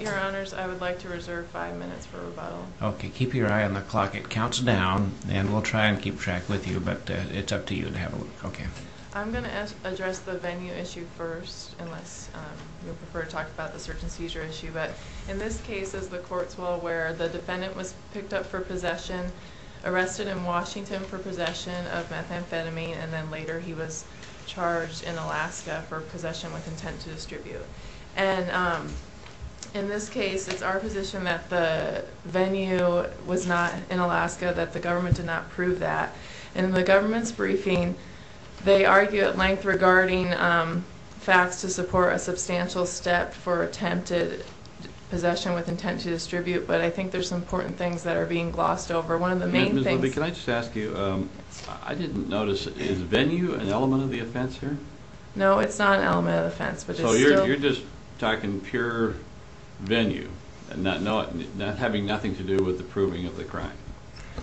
Your honors, I would like to reserve five minutes for rebuttal. Okay keep your eye on the clock it counts down and we'll try and keep track with you but it's up to you to have a look. Okay I'm going to address the venue issue first unless you prefer to talk about the search and seizure issue but in this case as the court's well aware the defendant was picked up for possession, arrested in Washington for possession of methamphetamine and then later he was In this case it's our position that the venue was not in Alaska that the government did not prove that. In the government's briefing they argue at length regarding facts to support a substantial step for attempted possession with intent to distribute but I think there's some important things that are being glossed over. One of the main things... Can I just ask you I didn't notice is venue an element of the offense here? No it's not an element of venue and not having nothing to do with the proving of the crime.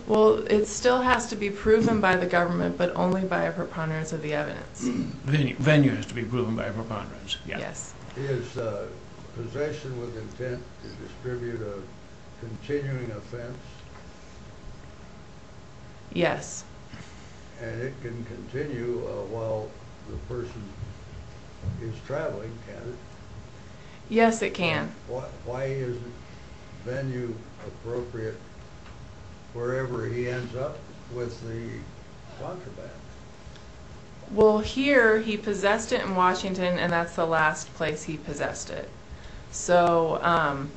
Well it still has to be proven by the government but only by a preponderance of the evidence. Venue has to be proven by a preponderance, yes. Is possession with intent to distribute a continuing offense? Yes. And it can continue while the person is traveling, can it? Yes it can. Why is venue appropriate wherever he ends up with the contraband? Well here he possessed it in Washington and that's the last place he possessed it so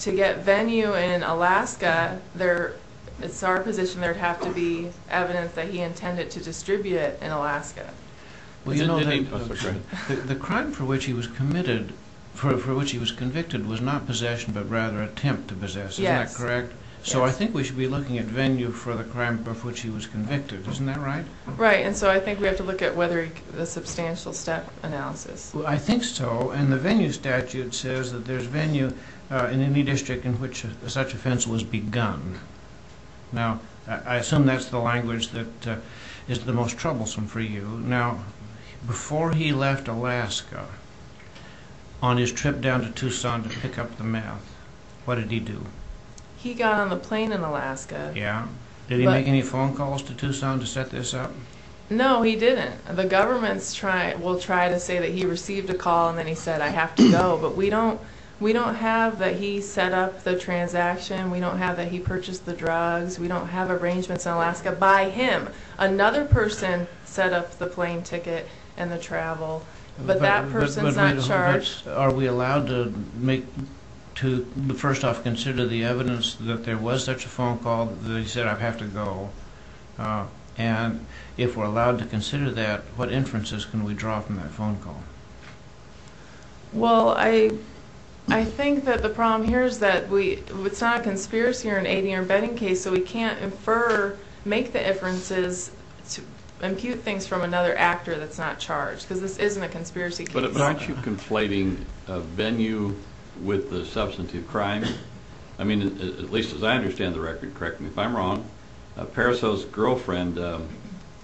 to get venue in Alaska there it's our position there'd have to be evidence that he intended to distribute it in Alaska. Well you know the crime for which he was committed, for which he was convicted, was not possession but rather attempt to possess, correct? So I think we should be looking at venue for the crime of which he was convicted, isn't that right? Right and so I think we have to look at whether the substantial step analysis. I think so and the venue statute says that there's venue in any district in which such offense was begun. Now I assume that's the language that is the most troublesome for you. Now before he left Alaska on his trip down to Tucson to pick up the meth, what did he do? He got on the plane in Alaska. Yeah. Did he make any phone calls to Tucson to set this up? No he didn't. The government will try to say that he received a call and then he said I have to go but we don't we don't have that he set up the transaction, we don't have that he purchased the drugs, we don't have arrangements in Alaska by him. Another person set up the plane ticket and the travel but that person's not charged. Are we allowed to make, to first off consider the evidence that there was such a phone call that he said I have to go and if we're allowed to consider that what inferences can we draw from that phone call? Well I think that the problem here is that we, it's not a conspiracy or an eight-year bedding case so we can't infer, make the inferences to impute things from another actor that's not charged because this isn't a conspiracy. But aren't you conflating venue with the substantive crime? I mean at least as I understand the record, correct me if I'm wrong, Pariseau's girlfriend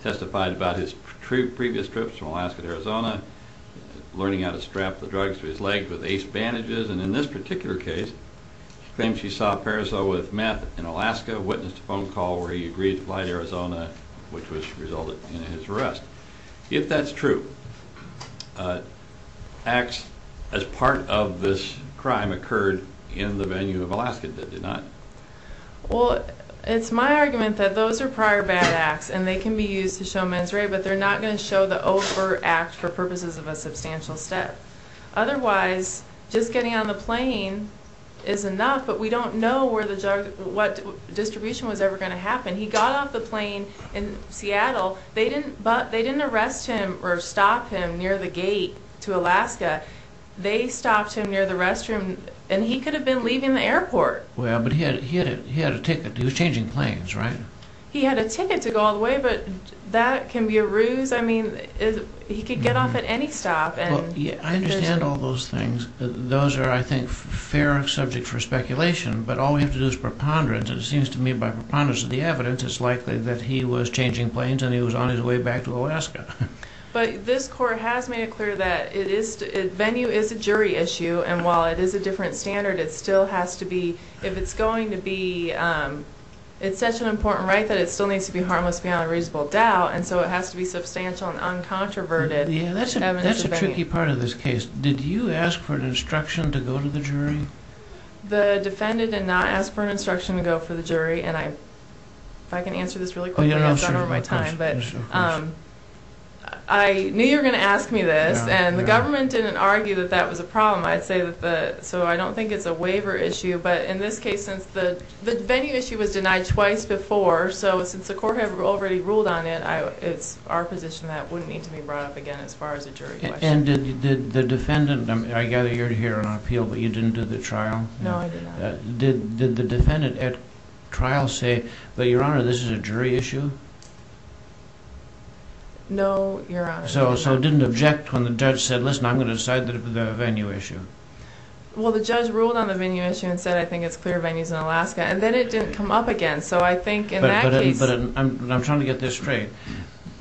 testified about his previous trips from Alaska to Arizona, learning how to strap the drugs to his leg with ace bandages and in this particular case she claims she saw Pariseau with meth in Alaska, witnessed a phone call to Arizona which resulted in his arrest. If that's true, acts as part of this crime occurred in the venue of Alaska that did not? Well it's my argument that those are prior bad acts and they can be used to show mens re but they're not going to show the over act for purposes of a substantial step. Otherwise just getting on the plane is enough but we don't know where the drug, what distribution was ever going to happen. He got off the plane in Seattle, but they didn't arrest him or stop him near the gate to Alaska, they stopped him near the restroom and he could have been leaving the airport. Well but he had a ticket, he was changing planes, right? He had a ticket to go all the way but that can be a ruse, I mean he could get off at any stop. I understand all those things, those are I think fair subject for speculation but all we have to do is preponderance and it seems to me by preponderance of the evidence it's likely that he was changing planes and he was on his way back to Alaska. But this court has made it clear that it is, venue is a jury issue and while it is a different standard it still has to be, if it's going to be, it's such an important right that it still needs to be harmless beyond a reasonable doubt and so it has to be substantial and uncontroverted. Yeah that's a tricky part of this case. Did you ask for an instruction to go to the jury? The defendant did not ask for an instruction to go for the jury and I if I can answer this really quickly, I know you're going to ask me this and the government didn't argue that that was a problem. I'd say that so I don't think it's a waiver issue but in this case since the venue issue was denied twice before so since the court had already ruled on it, it's our position that wouldn't need to be brought up again as far as a jury question. And did the defendant, I gather you're here on appeal but you didn't do the trial? No I did not. Did the defendant at trial say but your honor this is a jury issue? No your honor. So so didn't object when the judge said listen I'm going to decide the venue issue? Well the judge ruled on the venue issue and said I think it's clear venue is in Alaska and then it didn't come up again so I think in that case. But I'm trying to get this straight,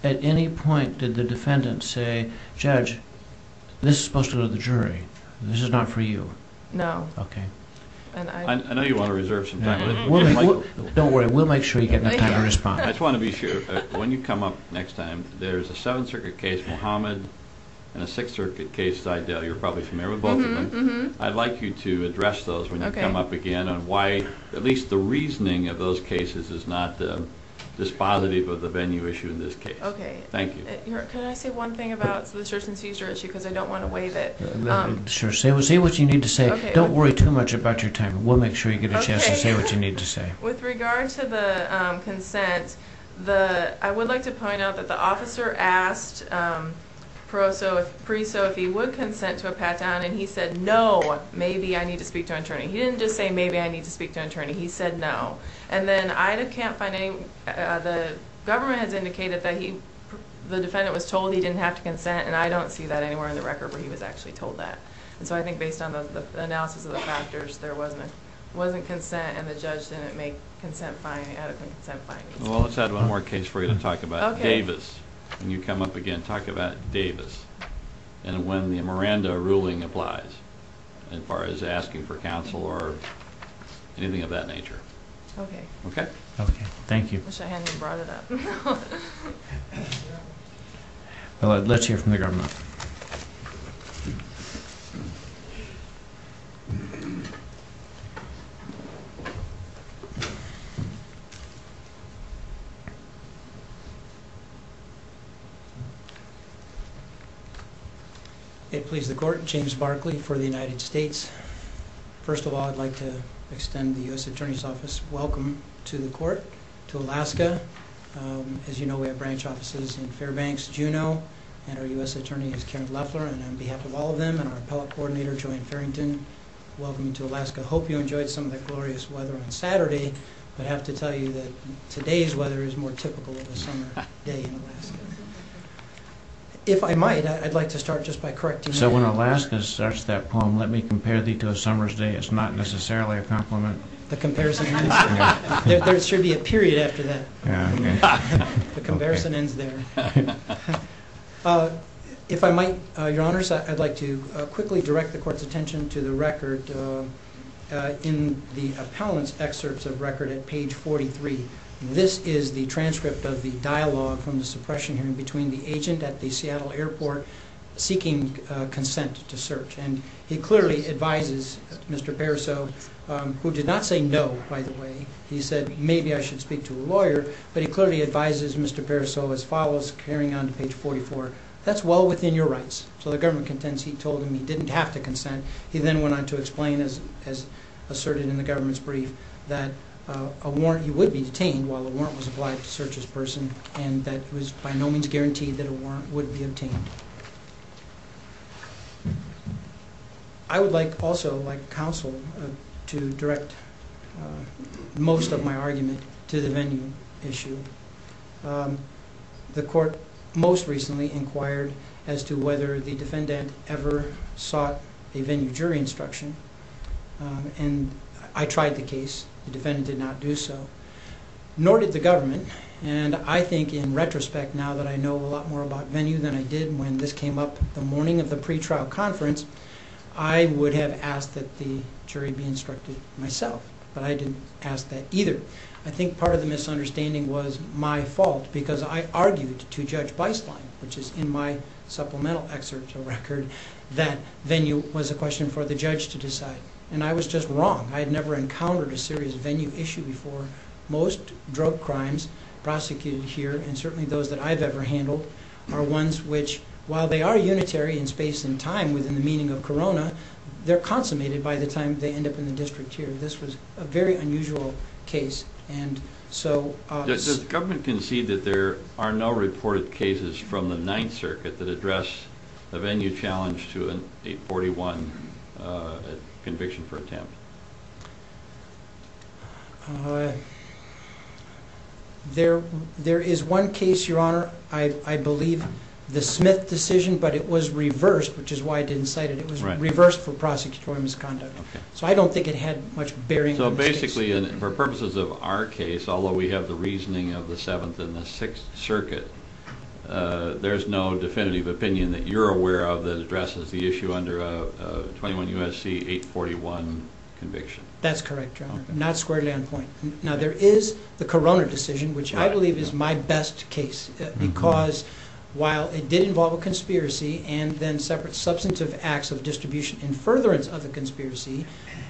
at any point did the defendant say judge this is the jury, this is not for you? No. Okay. I know you want to reserve some time, don't worry we'll make sure you get enough time to respond. I just want to be sure when you come up next time there's a Seventh Circuit case, Mohamed and a Sixth Circuit case, you're probably familiar with both of them. I'd like you to address those when you come up again on why at least the reasoning of those cases is not this positive of the venue issue in this case. Okay. Thank you. Can I say one thing about the search and seizure issue because I don't want to waive it. Sure, say what you need to say, don't worry too much about your time, we'll make sure you get a chance to say what you need to say. With regard to the consent, I would like to point out that the officer asked Preseau if he would consent to a pat-down and he said no, maybe I need to speak to an attorney. He didn't just say maybe I need to speak to an attorney, he said no. And then I can't find any, the government has indicated that the defendant was told he didn't have to consent and I don't see that anywhere in the record where he was actually told that. And so I think based on the analysis of the factors there wasn't a wasn't consent and the judge didn't make consent finding, adequate consent findings. Well let's add one more case for you to talk about, Davis. When you come up again talk about Davis and when the Miranda ruling applies as far as asking for counsel or anything of that nature. Okay. Okay, thank you. I wish I hadn't brought it up. Well let's hear from the government. It please the court, James Barkley for the United States. First of all I'd like to extend the U.S. Attorney's Office welcome to the court, to Alaska. As you know we have branch offices in Fairbanks, Juneau and our U.S. Attorney is Karen Leffler and on behalf of all of them and our appellate coordinator Joanne Farrington, welcome to Alaska. I hope you enjoyed some of the glorious weather on Saturday but I have to tell you that today's weather is more typical of a summer day in Alaska. If I might, I'd like to start just by correcting you. So when Alaska starts that poem, let me The comparison ends there. There should be a period after that. The comparison ends there. If I might, your honors, I'd like to quickly direct the court's attention to the record in the appellant's excerpts of record at page 43. This is the transcript of the dialogue from the suppression hearing between the agent at the Seattle Airport seeking consent to search and he clearly advises Mr. Pariseau, who did not say no, by the way, he said maybe I should speak to a lawyer, but he clearly advises Mr. Pariseau as follows, carrying on to page 44, that's well within your rights. So the government contends he told him he didn't have to consent. He then went on to explain, as asserted in the government's brief, that a warrant, he would be detained while the warrant was applied to search this person and that it was by no means guaranteed that a like counsel to direct most of my argument to the venue issue. The court most recently inquired as to whether the defendant ever sought a venue jury instruction and I tried the case. The defendant did not do so, nor did the government, and I think in retrospect now that I know a lot more about venue than I did when this came up the morning of the pretrial conference, I would have asked that the jury be instructed myself, but I didn't ask that either. I think part of the misunderstanding was my fault because I argued to Judge Beislein, which is in my supplemental excerpt to the record, that venue was a question for the judge to decide and I was just wrong. I had never encountered a serious venue issue before. Most drug crimes prosecuted here and certainly those that I've ever handled are ones which, while they are unitary in space and time within the meaning of Corona, they're consummated by the time they end up in the district here. This was a very unusual case. And so the government can see that there are no reported cases from the Ninth Circuit that address the venue challenge to a 41 conviction for attempt. Uh, there there is one case, Your Honor. I believe the Smith decision, but it was reversed, which is why I didn't cite it. It was reversed for prosecutorial misconduct. So I don't think it had much bearing. So basically, for purposes of our case, although we have the reasoning of the Seventh and the Sixth Circuit, uh, there's no definitive opinion that you're aware of that addresses the issue under a 21 U. S. C. 8 41 conviction. That's correct. Not squarely on point. Now there is the Corona decision, which I believe is my best case, because while it did involve a conspiracy and then separate substantive acts of distribution and furtherance of the conspiracy,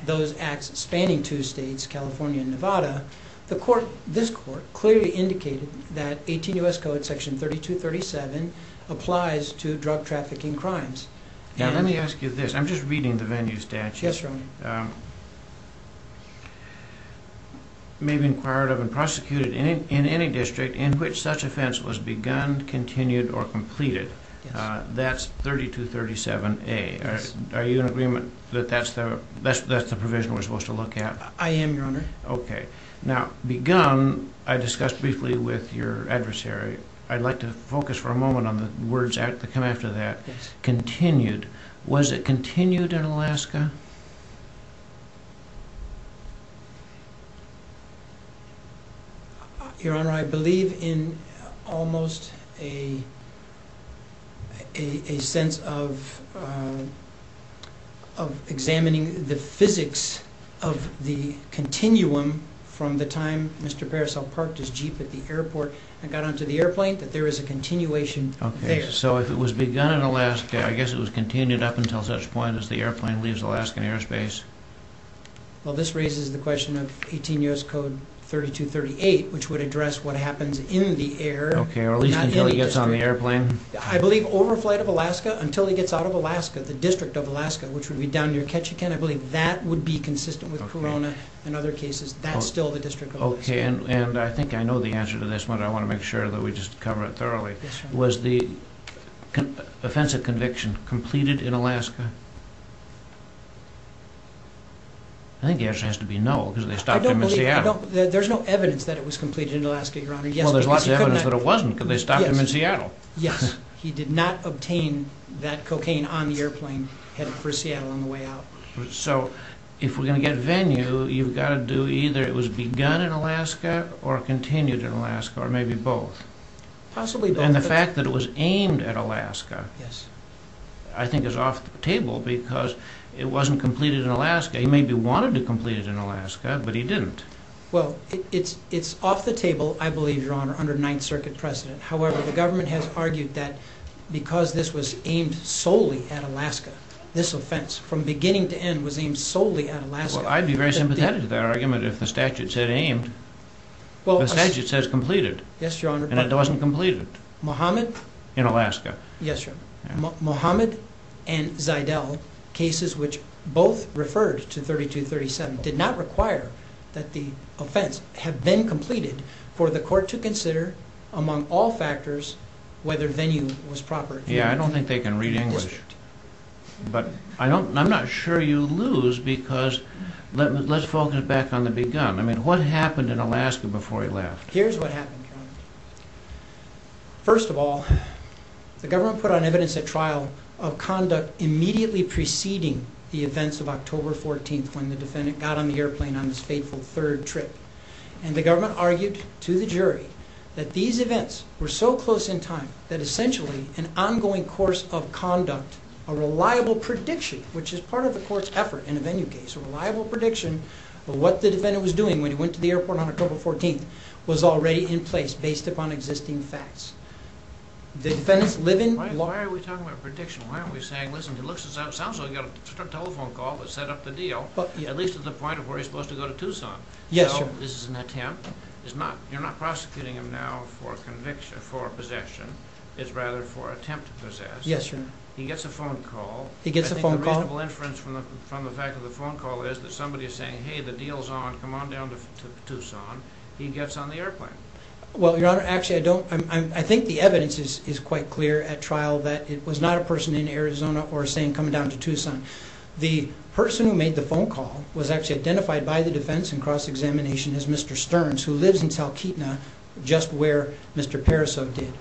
those acts spanning two states, California and Nevada, the court, this court clearly indicated that 18 U. S. Code Section 32 37 applies to drug trafficking crimes. Now, let me ask you this. I'm just reading the venue statute. Yes, right. Um, maybe inquired of and prosecuted in any district in which such offense was begun, continued or completed. That's 32 37 a. Are you in agreement that that's the best? That's the provision we're supposed to look at? I am, Your Honor. Okay, now begun. I discussed briefly with your adversary. I'd like to focus for a moment on the words that come after that continued. Was it continued in Alaska? Yeah. Your Honor, I believe in almost a a sense of, uh, of examining the physics of the continuum from the time Mr Parasol parked his jeep at the airport and got onto the airplane that there is a continuation. So if it was begun in Alaska, I guess it was continued up until such point as the airplane leaves Alaskan airspace. Well, this raises the question of 18 U. S. Code 32 38, which would address what happens in the air. Okay, at least until he gets on the airplane. I believe overflight of Alaska until he gets out of Alaska. The district of Alaska, which would be down your catch again. I believe that would be consistent with Corona and other cases. That's still the district. Okay, and I think I know the answer to this one. I want to make sure that we just cover it was the offensive conviction completed in Alaska. I think it has to be no because they stopped him in Seattle. There's no evidence that it was completed in Alaska. Your Honor. Yes, there's a lot of evidence that it wasn't because they stopped him in Seattle. Yes, he did not obtain that cocaine on the airplane headed for Seattle on the way out. So if we're gonna get venue, you've got to do either. It was begun in Alaska or continued in Alaska or maybe both. Possibly. And the fact that it was aimed at Alaska. Yes, I think is off the table because it wasn't completed in Alaska. He maybe wanted to complete it in Alaska, but he didn't. Well, it's off the table. I believe your honor under Ninth Circuit president. However, the government has argued that because this was aimed solely at Alaska, this offense from beginning to end was aimed solely at Alaska. I'd be very much. It said aimed. Well, it says it says completed. Yes, your honor. And it wasn't completed Mohammed in Alaska. Yes, sir. Mohammed and Zidelle cases, which both referred to 32 37 did not require that the offense have been completed for the court to consider among all factors whether venue was proper. Yeah, I don't think they can read English, but I don't. I'm not sure you lose because let's focus back on the begun. I mean, what happened in Alaska before he left? Here's what happened. First of all, the government put on evidence at trial of conduct immediately preceding the events of October 14th when the defendant got on the airplane on this fateful third trip and the government argued to the jury that these events were so close in time that essentially an ongoing course of court effort in a venue case, a reliable prediction of what the defendant was doing when he went to the airport on October 14th was already in place based upon existing facts. The defendants live in. Why are we talking about prediction? Why are we saying, listen, he looks, it sounds like you got a telephone call that set up the deal, at least at the point of where he's supposed to go to Tucson. Yes, sir. This is an attempt. It's not. You're not prosecuting him now for conviction for possession. It's rather for attempt to possess. Yes, sir. He gets a phone call. He gets a phone call. Reasonable inference from the fact of the phone call is that somebody is saying, Hey, the deal is on. Come on down to Tucson. He gets on the airplane. Well, your honor, actually, I don't. I think the evidence is quite clear at trial that it was not a person in Arizona or saying coming down to Tucson. The person who made the phone call was actually identified by the defense and cross-examination is Mr Stearns, who lives in Salkeetna, just where Mr Parasol did.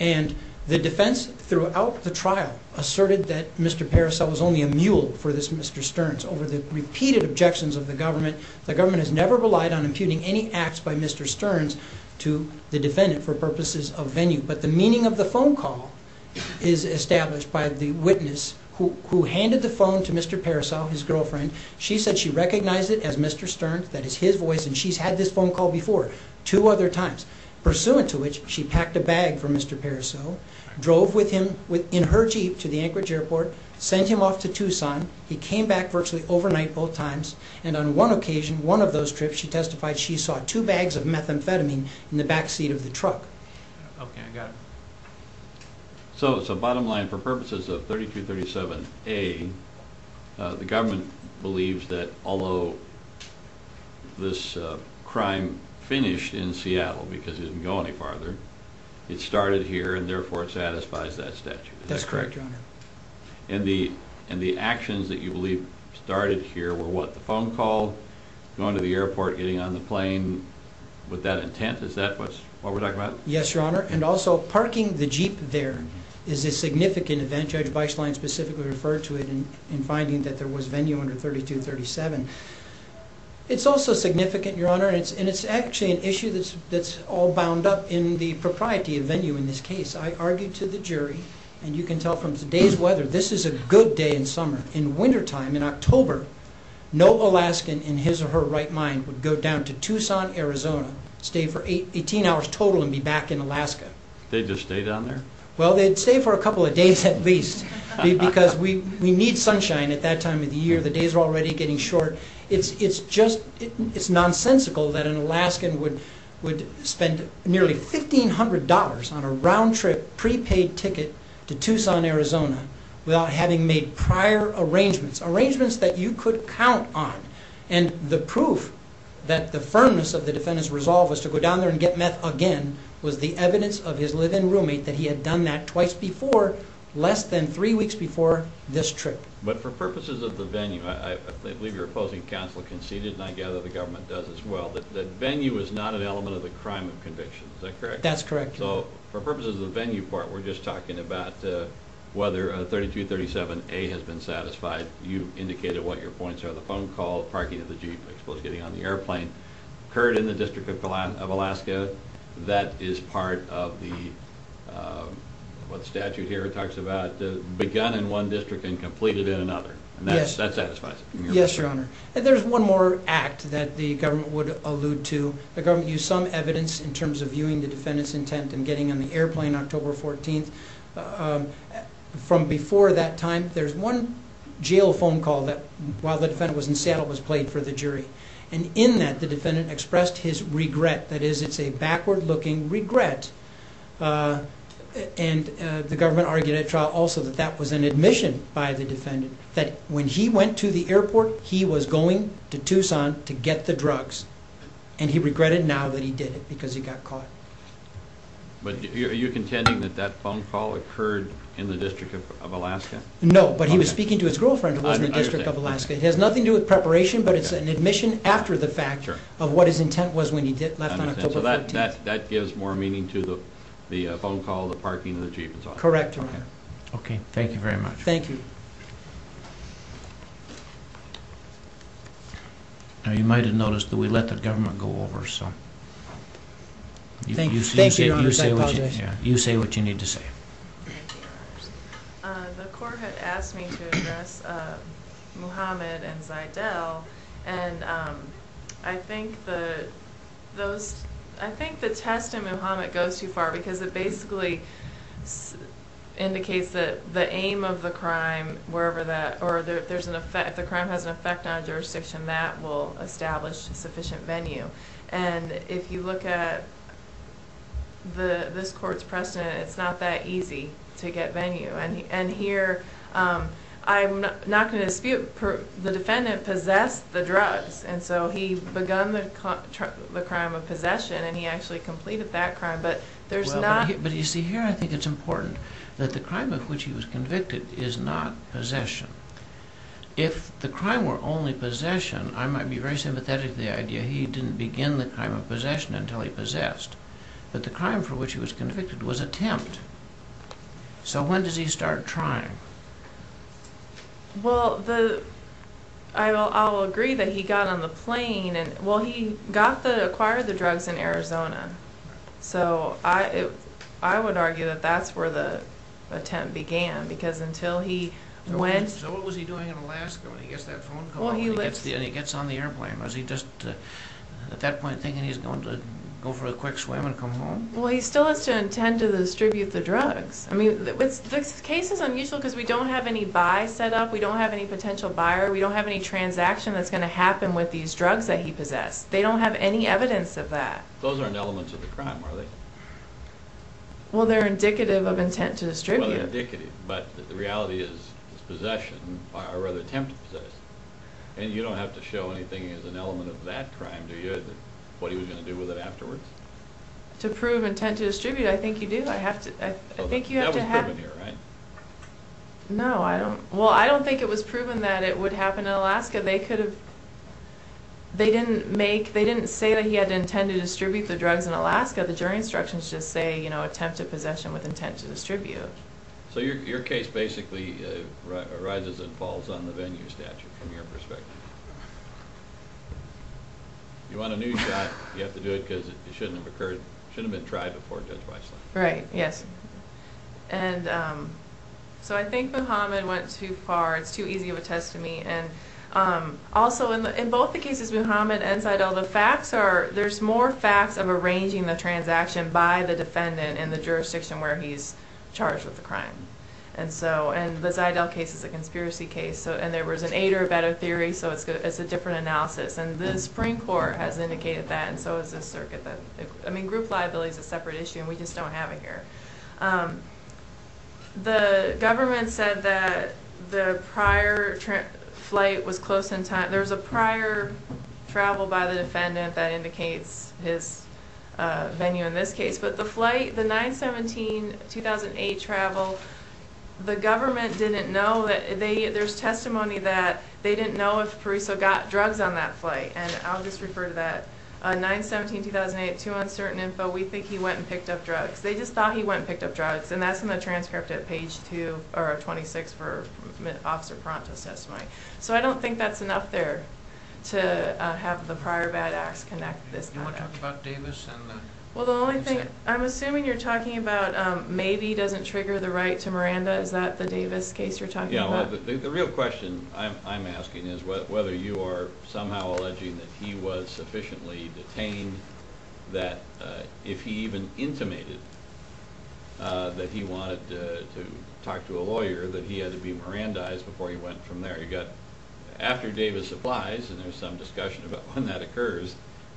And the defense throughout the trial asserted that Mr Parasol was only a mule for this Mr Stearns over the repeated objections of the government. The government has never relied on imputing any acts by Mr Stearns to the defendant for purposes of venue. But the meaning of the phone call is established by the witness who handed the phone to Mr Parasol, his girlfriend. She said she recognized it as Mr Stearns. That is his voice. And she's had this phone call before two other times, pursuant to which she packed a bag for Mr Parasol, drove with him in her jeep to the Anchorage airport, sent him off to Tucson. He came back virtually overnight both times. And on one occasion, one of those trips, she testified she saw two bags of methamphetamine in the back seat of the truck. Okay, I got it. So it's a bottom line for purposes of 32 37 A. Uh, the government believes that although this crime finished in Seattle because he didn't go any farther, it started here and therefore it satisfies that statute. That's correct. And the and the actions that you believe started here were what the phone called going to the airport, getting on the plane with that intent. Is that what's what we're talking about? Yes, Your Honor. And also parking the jeep there is a significant event. Judge Bychline specifically referred to it in finding that there was venue under 32 37. It's also significant, Your Honor. And it's actually an issue that's all bound up in the propriety of venue. In this case, I argued to the jury and you can tell from today's weather, this is a good day in summer. In wintertime, in October, no Alaskan in his or her right mind would go down to Tucson, Arizona, stay for 18 hours total and be back in Alaska. They just stay down there. Well, they'd stay for a couple of days at least because we need sunshine at that time of the year. The days are already getting short. It's just it's nonsensical that an Alaskan would would spend nearly $1500 on a round trip prepaid ticket to Tucson, Arizona, without having made prior arrangements, arrangements that you could count on. And the proof that the firmness of the defendant's resolve was to go down there and get met again was the evidence of his live in roommate that he had done that twice before less than three weeks before this trip. But for purposes of the venue, I believe your opposing counsel conceded, and I gather the government does as well. The venue is not an element of the crime of conviction. Is that correct? That's correct. So for purposes of the venue part, we're just talking about whether 32 37 a has been satisfied. You indicated what your points are. The phone call parking of the Jeep exposed getting on the airplane occurred in the district of Alaska of Alaska. That is part of the what statute here talks about begun in one district and completed in another. And that's that satisfies. Yes, Your Honor. And there's one more act that the government would allude to. The government use some evidence in terms of intent and getting in the airplane October 14th from before that time. There's one jail phone call that while the defendant was in Seattle was played for the jury. And in that the defendant expressed his regret. That is, it's a backward looking regret. Uh, and the government argued at trial also that that was an admission by the defendant that when he went to the airport, he was going to Tucson to get the drugs, and he regretted now that he did it because he got caught. But are you contending that that phone call occurred in the district of Alaska? No, but he was speaking to his girlfriend who was in the district of Alaska. It has nothing to do with preparation, but it's an admission after the fact of what his intent was when he did left on October that that gives more meaning to the phone call. The parking of the Jeep is correct. Okay. Okay. Thank you very much. Thank you. You might have noticed that we let the government go over. So thank you. Thank you. You say what you need to say. The court had asked me to address Mohammed and Zidelle. And, um, I think the those I think the test in Muhammad goes too far because it basically indicates that the aim of the crime wherever that or there's an effect. The crime has an effect on jurisdiction that will establish a sufficient venue. And if you look at the this court's precedent, it's not that easy to get venue. And and here, I'm not gonna dispute the defendant possessed the drugs. And so he begun the the crime of possession, and he actually completed that crime. But there's not. But you see here, I think it's important that the crime of which he was convicted is not possession. If the crime were only possession, I might be very sympathetic. The idea he didn't begin the crime of possession until he possessed. But the crime for which he was convicted was attempt. So when does he start trying? Well, the I will agree that he got on the plane and well, he got the acquired the drugs in Arizona. So I would argue that that's where the attempt began, because until he went, what was he doing in Alaska? When he gets that phone line? Was he just at that point thinking he's going to go for a quick swim and come home? Well, he still has to intend to distribute the drugs. I mean, the case is unusual because we don't have any by set up. We don't have any potential buyer. We don't have any transaction that's gonna happen with these drugs that he possessed. They don't have any evidence of that. Those aren't elements of the crime, are they? Well, they're indicative of intent to distribute. But the reality is, possession are rather tempted. So and you don't have to show anything is an element of that crime. Do you? What are you gonna do with it afterwards? To prove intent to distribute? I think you do. I have to. I think you have to happen here, right? No, I don't. Well, I don't think it was proven that it would happen in Alaska. They could have. They didn't make. They didn't say that he had intended to distribute the drugs in Alaska. The jury instructions just say, you know, attempted possession with intent to distribute. So your case basically arises and falls on the venue statute from your perspective. You want a new shot? You have to do it because it shouldn't have occurred. Should have been tried before. Judge Weissland. Right? Yes. And so I think Mohammed went too far. It's too easy of a test to me. And also in both the cases, Mohammed and Ziedel, the facts are there's more facts of arranging the transaction by the defendant in the jurisdiction where he's charged with the crime. And so and the Ziedel case is a and there was an eight or a better theory. So it's a different analysis. And the Supreme Court has indicated that. And so it's a circuit that I mean, group liability is a separate issue and we just don't have it here. The government said that the prior flight was close in time. There's a prior travel by the defendant that indicates his venue in this case. But the flight, the 9-17-2008 travel, the government didn't know that. There's testimony that they didn't know if Parisot got drugs on that flight. And I'll just refer to that. 9-17-2008, too uncertain info. We think he went and picked up drugs. They just thought he went and picked up drugs. And that's in the transcript at page two or 26 for Officer Pronto's testimony. So I don't think that's enough there to have the prior bad acts connect this. You want to talk about Davis? Well, the only thing I'm assuming you're talking about maybe doesn't trigger the right to Miranda. Is that the Davis case you're talking about? The real question I'm asking is whether you are somehow alleging that he was sufficiently detained, that if he even intimated that he wanted to talk to a lawyer, that he had to be Mirandized before he went from there. You got... After Davis applies, and there's some discussion about when that occurs,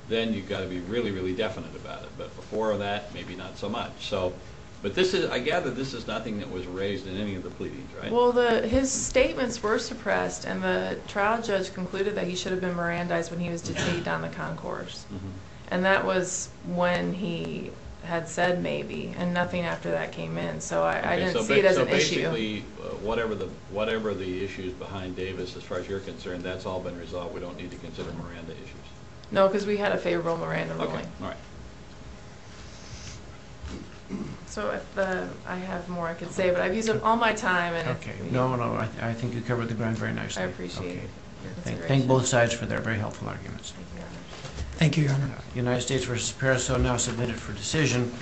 then you've got to be really, really definite about it. But before that, maybe not so much. But I gather this is nothing that was raised in any of the pleadings, right? Well, his statements were suppressed, and the trial judge concluded that he should have been Mirandized when he was detained on the concourse. And that was when he had said maybe, and nothing after that came in. So I didn't see it as an issue. So basically, whatever the issues behind Davis, as far as you're concerned, that's all been resolved. We don't need to consider Miranda issues. No, because we had a favorable Miranda ruling. Okay. All right. So I have more I could say, but I've used up all my time and... Okay. No, no. I think you covered the ground very nicely. I appreciate your consideration. Okay. Thank both sides for their very helpful arguments. Thank you, Your Honor. Thank you, Your Honor. United States versus Paris, so now submitted for decision.